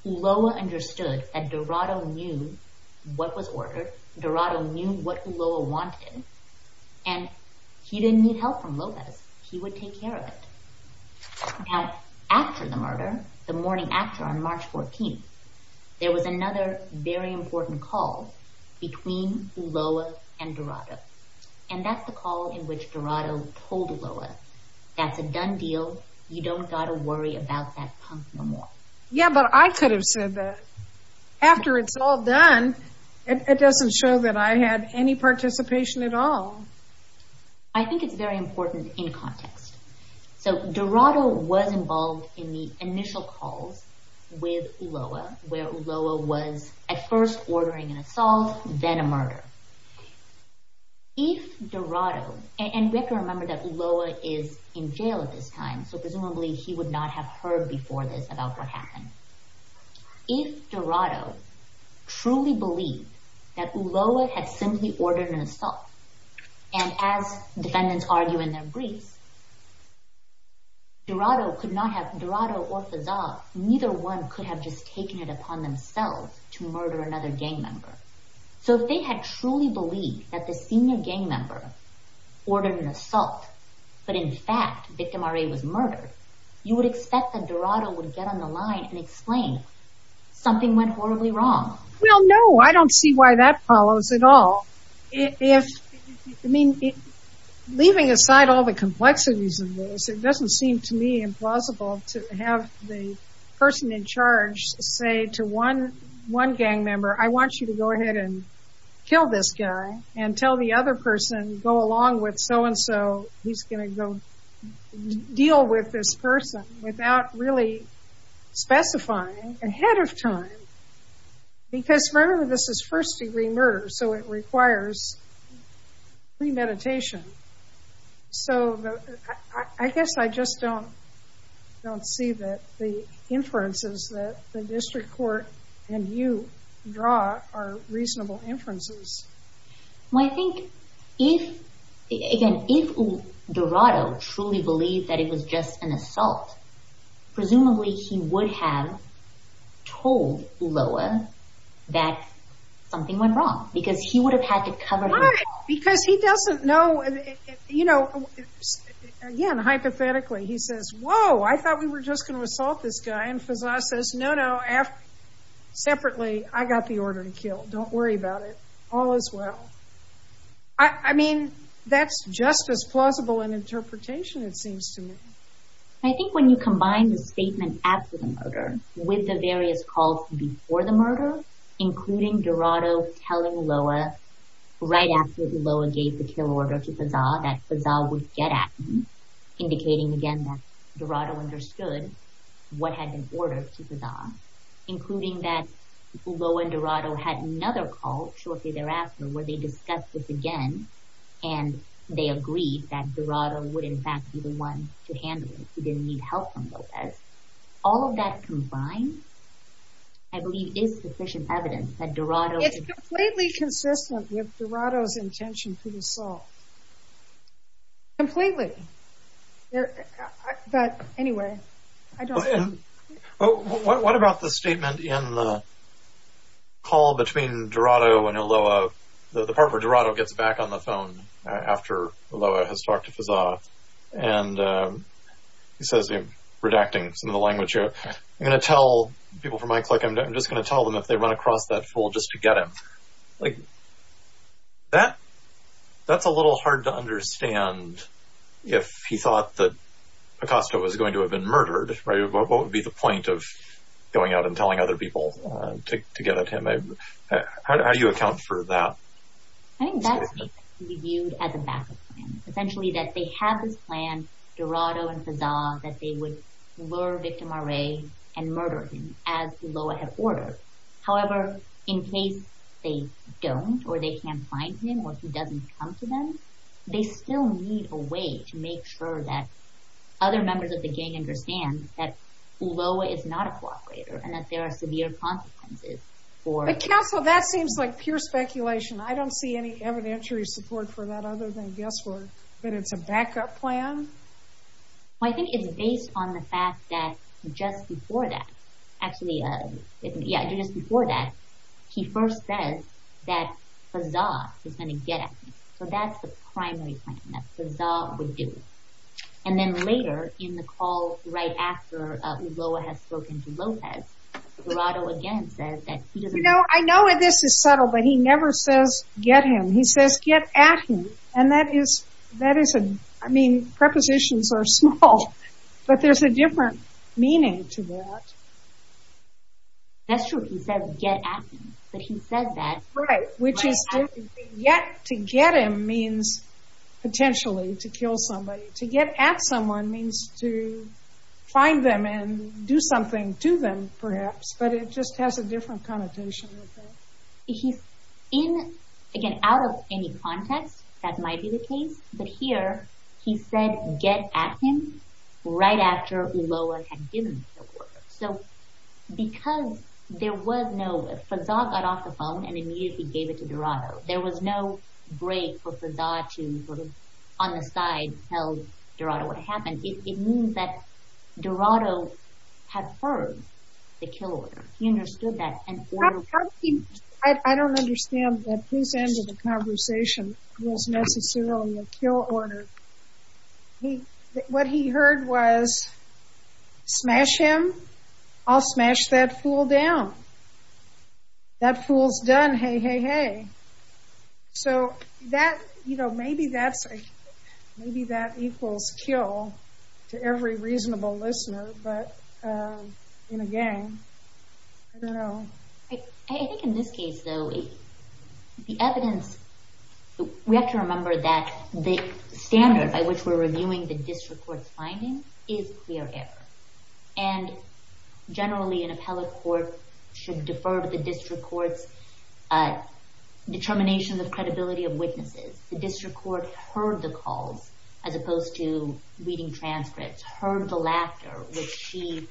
Ulloa understood that Dorado knew what was ordered, Dorado knew what Ulloa wanted, and he didn't need help from Lopez. He would take care of it. Now, after the murder, the morning after, there was another very important call between Ulloa and Dorado. And that's the call in which Dorado told Ulloa, that's a done deal, you don't got to worry about that punk no more. Yeah, but I could have said that. After it's all done, it doesn't show that I had any participation at all. I think it's very important in context. So Dorado was involved in the initial calls with Ulloa, where Ulloa was at first ordering an assault, then a murder. If Dorado, and we have to remember that Ulloa is in jail at this time, so presumably he would not have heard before this about what happened. If Dorado truly believed that Ulloa had simply ordered an assault, and as defendants argue in their briefs, Dorado could not have, Dorado or Fazar, neither one could have just taken it upon themselves to murder another gang member. So if they had truly believed that the senior gang member ordered an assault, but in fact, victim RA was murdered, you would expect that Dorado would get on the line and explain something went horribly wrong. Well no, I don't see why that follows at all. If, I mean, leaving aside all the complexities of this, it doesn't seem to me impossible to have the person in charge say to one gang member, I want you to go ahead and kill this guy, and tell the other person, go along with so and so, he's going to go deal with this person without really specifying ahead of time, because remember this is first degree murder, so it requires premeditation. So I guess I just don't, don't see that the inferences that the district court and you draw are reasonable inferences. Well I think if, again, if Dorado truly believed that it was just an assault, presumably he would have told Ulloa that something went wrong, because he would have had to cover it up. Why? Because he doesn't know, you know, again, hypothetically, he says, whoa, I thought we were just going to assault this guy, and Faza says, no, no, separately, I got the order to kill, don't worry about it, all is well. I mean, that's just as plausible an interpretation it seems to me. I think when you combine the statement after the murder with the various calls before the murder, including Dorado telling Ulloa right after Ulloa gave the kill order to Faza that Faza would get at him, indicating again that Dorado understood what had been ordered to Faza, including that Ulloa and Dorado had another call shortly thereafter where they discussed this again, and they agreed that Dorado would in fact be the one to handle it, he didn't need help from Lopez. All of that combined, I believe is sufficient evidence that Dorado... It's completely consistent with Dorado's intention for the assault. Completely. But anyway, I don't... What about the statement in the call between Dorado and Ulloa, the part where Dorado gets back on the phone after Ulloa has talked to Faza, and he says, redacting some of the language here, I'm going to tell people from iClick, I'm just going to tell them if they run across that fool just to get him. Like, that's a little hard to understand if he thought that Acosta was going to have been murdered, right? What would be the point of going out and telling other people to get at him? How do you account for that statement? I think that statement should be viewed as a backup plan. Essentially that they have this plan, Dorado and Faza, that they would lure Victim Array and murder him as Ulloa had ordered. However, in case they don't or they can't find him or he doesn't come to them, they still need a way to make sure that other members of the gang understand that Ulloa is not a cooperator and that there are severe consequences for... But Counsel, that seems like pure speculation. I don't see any evidentiary support for that other than guesswork. But it's a backup plan? I think it's based on the fact that just before that, actually, yeah, just before that, he first says that Faza is going to get at him. So that's the primary plan that Faza would do. And then later, in the call right after Ulloa has spoken to Lopez, Dorado again says that he doesn't... You know, I know this is subtle, but he never says get him. He says get at him. And that is a... I mean, prepositions are small, but there's a different meaning to that. That's true. He says get at him. But he says that... Right. Which is different. To get him means, potentially, to kill somebody. To get at someone means to find them and do something to them, perhaps. But it just has a different connotation. He's in, again, out of any context, that might be the case. But here, he said get at him right after Ulloa had given the word. So because there was no... Faza got off the phone and immediately gave it to Dorado. There was no break for Faza to, on the side, tell Dorado what happened. It means that Dorado had heard the kill order. He understood that and... I don't understand. Please end the conversation. It wasn't necessarily a kill order. What he heard was smash him, I'll smash that fool down. That fool's done. Hey, hey, hey. So that, you know, maybe that equals kill to every reasonable listener. But, again, I don't know. I think in this case, though, the evidence... We have to remember that the standard by which we're reviewing the district court's findings is clear error. And, generally, an appellate court should defer to the district court's determination of credibility of witnesses. The district court heard the calls as opposed to reading transcripts. Heard the laughter, which she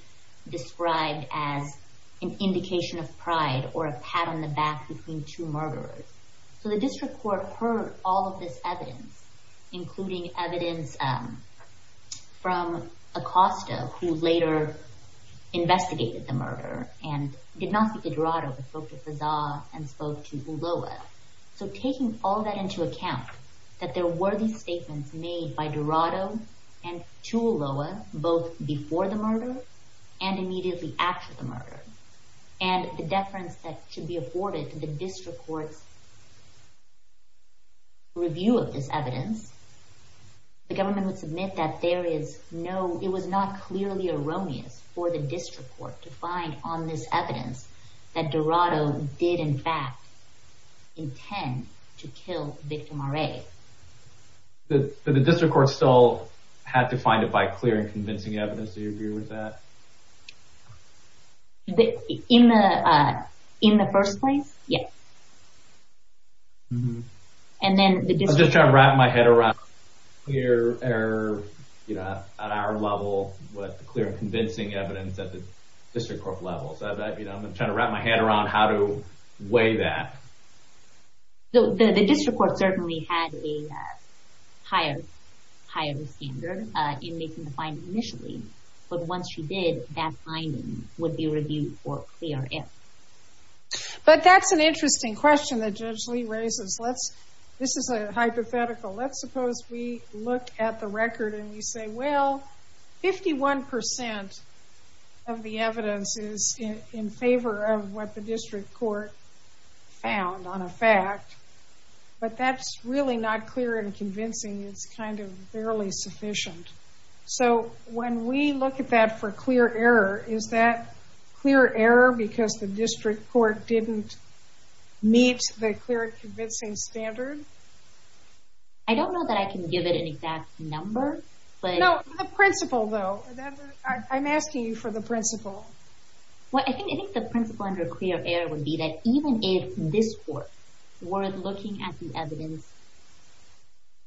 described as an indication of pride or a pat on the back between two murderers. So the district court heard all of this evidence, including evidence from Acosta, who later investigated the murder and did not speak to Dorado, but spoke to Fazar and spoke to Ulloa. So taking all that into account, that there were these statements made by Dorado and to Ulloa, both before the murder and immediately after the murder, and the deference that should be afforded to the district court's review of this evidence, the government would submit that there is no... It was not clearly erroneous for the district court to find on this evidence that Dorado did, in fact, intend to kill Victor Moret. But the district court still had to find it by clear and convincing evidence. Do you agree with that? In the first place? Yes. I'm just trying to wrap my head around clear error, you know, at our level, with clear and convincing evidence at the district court level. I'm trying to wrap my head around how to weigh that. The district court certainly had a higher standard in making the finding initially, but once you did, that finding would be reviewed for clear error. But that's an interesting question that Judge Lee raises. This is a hypothetical. Let's suppose we look at the record and we say, well, 51% of the evidence is in favor of what the district court found on a fact, but that's really not clear and convincing. It's kind of barely sufficient. So when we look at that for clear error, is that clear error because the district court didn't meet the clear and convincing standard? I don't know that I can give it an exact number, but... The principle, though. I'm asking you for the principle. I think the principle under clear error would be that even if this court were looking at the evidence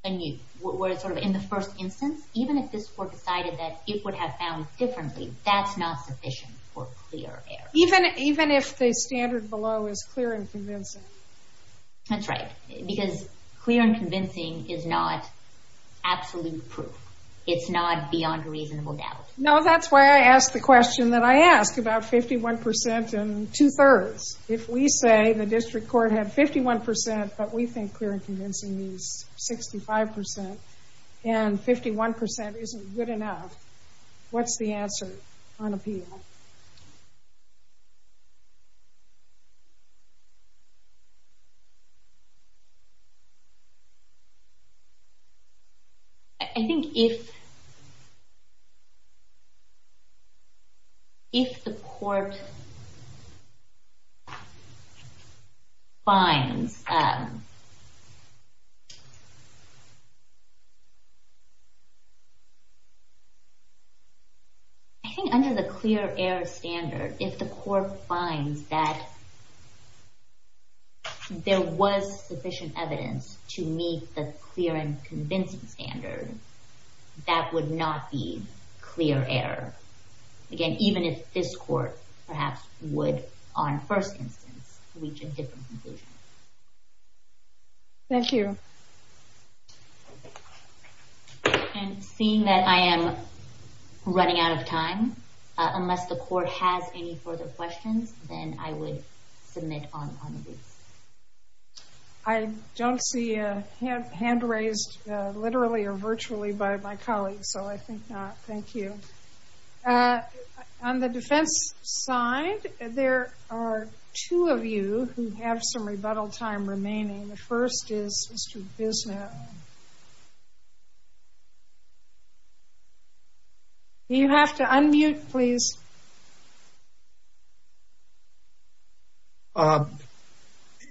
in the first instance, even if this court decided that it would have found differently, that's not sufficient for clear error. Even if the standard below is clear and convincing? That's right. Because clear and convincing is not absolute proof. It's not beyond a reasonable doubt. No, that's why I asked the question that I asked about 51% and two-thirds. If we say the district court had 51%, but we think clear and convincing means 65%, and 51% isn't good enough, what's the answer on appeal? I don't know. I think if... If the court... finds... I think under the clear error standard, if the court finds that... there was sufficient evidence to meet the clear and convincing standard, that would not be clear error. Again, even if this court perhaps would, on first instance, reach a different conclusion. Thank you. Thank you. And seeing that I am running out of time, unless the court has any further questions, then I would submit on these. I don't see a hand raised literally or virtually by my colleagues, so I think not. Thank you. On the defense side, there are two of you who have some rebuttal time remaining. The first is Mr. Biddle. Thank you, sir. You have to unmute, please.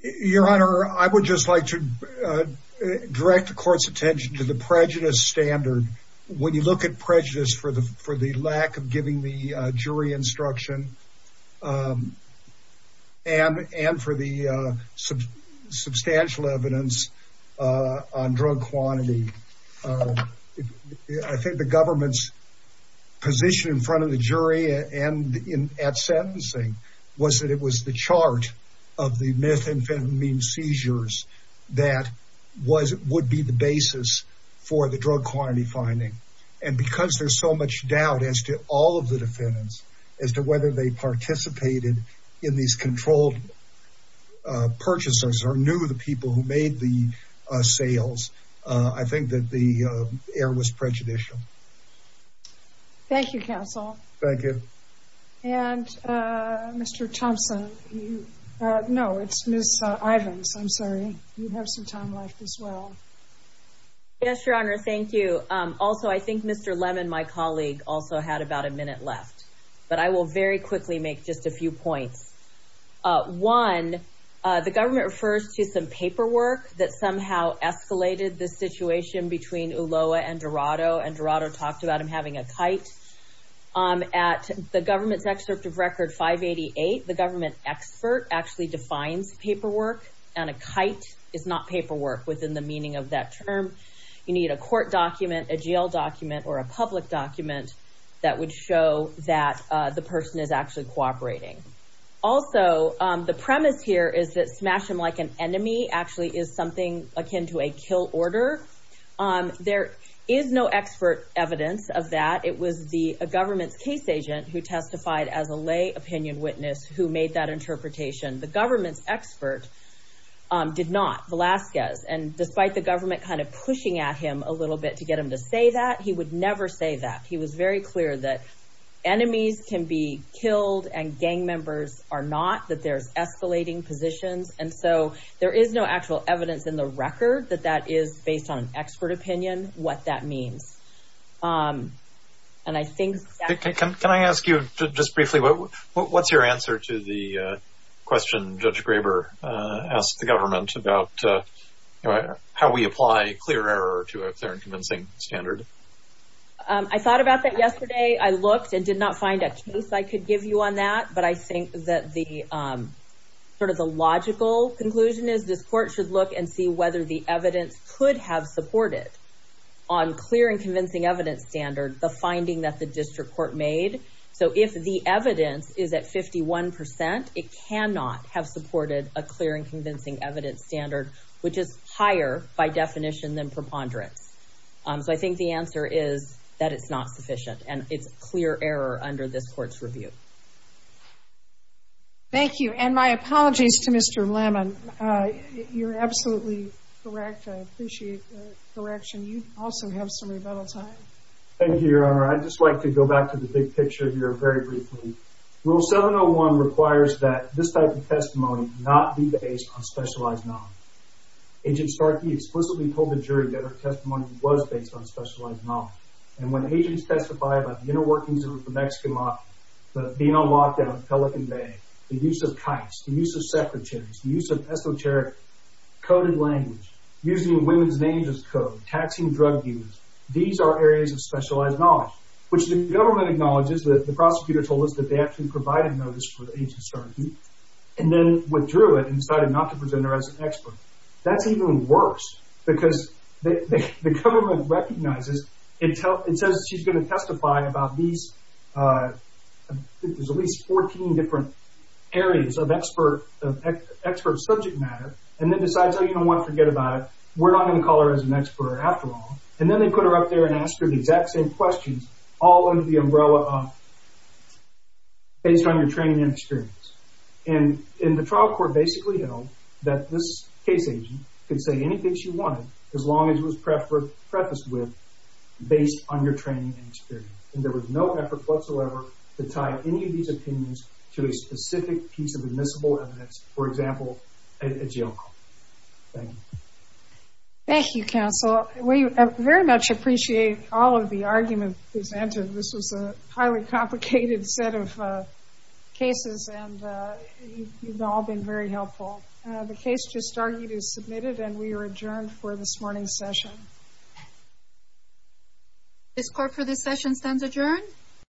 Your Honor, I would just like to direct the court's attention to the prejudice standard. When you look at prejudice for the lack of giving the jury instruction, and for the substantial evidence, on drug quantity, I think the government's position in front of the jury and at sentencing was that it was the chart of the methamphetamine seizures that would be the basis for the drug quantity finding. And because there's so much doubt as to all of the defendants, as to whether they participated in these controlled purchases, or knew the people who made the sales, I think that the error was prejudicial. Thank you, counsel. Thank you. And Mr. Thompson. No, it's Ms. Ivins. I'm sorry. You have some time left as well. Yes, Your Honor, thank you. Also, I think Mr. Lemon, my colleague, also had about a minute left. But I will very quickly make just a few points. One, the government refers to some paperwork that somehow escalated the situation between Ulloa and Dorado, and Dorado talked about him having a kite. At the government's excerpt of Record 588, the government expert actually defines paperwork, and a kite is not paperwork within the meaning of that term. You need a court document, a jail document, or a public document that would show that the person is actually cooperating. Also, the premise here is that smash him like an enemy actually is something akin to a kill order. There is no expert evidence of that. It was the government's case agent who testified as a lay opinion witness who made that interpretation. The government's expert did not, Velazquez, and despite the government kind of pushing at him a little bit to get him to say that, it's very clear that enemies can be killed and gang members are not, that there's escalating positions, and so there is no actual evidence in the record that that is, based on expert opinion, what that means. And I think... Can I ask you just briefly, what's your answer to the question Judge Graber asked the government about how we apply clear error to a fair and convincing standard? I thought about that yesterday. I looked and did not find a case I could give you on that, but I think that the sort of the logical conclusion is this court should look and see whether the evidence could have supported on clear and convincing evidence standard the finding that the district court made. So if the evidence is at 51%, it cannot have supported a clear and convincing evidence standard which is higher by definition than preponderance. So my answer is that it's not sufficient and it's clear error under this court's review. Thank you. And my apologies to Mr. Lemon. You're absolutely correct. I appreciate the correction. You also have some rebuttal time. Thank you, Your Honor. I'd just like to go back to the big picture here very briefly. Rule 701 requires that this type of testimony not be based on specialized knowledge. And when agents testify about the inner workings of the Mexican mafia, the being on lockdown in Pelican Bay, the use of kites, the use of secretaries, the use of esoteric coded language, using women's names as code, taxing drug dealers, these are areas of specialized knowledge, which the government acknowledges that the prosecutor told us that they actually provided notice for the agent's charges and then withdrew it and decided not to present her as an expert. It says she's going to testify about these at least 14 different areas of expert subject matter and then decides, oh, you know what? Forget about it. We're not going to call her as an expert after all. And then they put her up there and ask her the exact same questions all under the umbrella of based on your training and experience. And the trial court basically held that this case agent could say anything she wanted based on your training and experience. And there was no effort whatsoever to tie any of these opinions to a specific piece of admissible evidence, for example, a jail call. Thank you. Thank you, counsel. We very much appreciate all of the arguments presented. This was a highly complicated set of cases and you've all been very helpful. The case just argued is submitted and we are adjourned for this morning's session. This court for this session stands adjourned.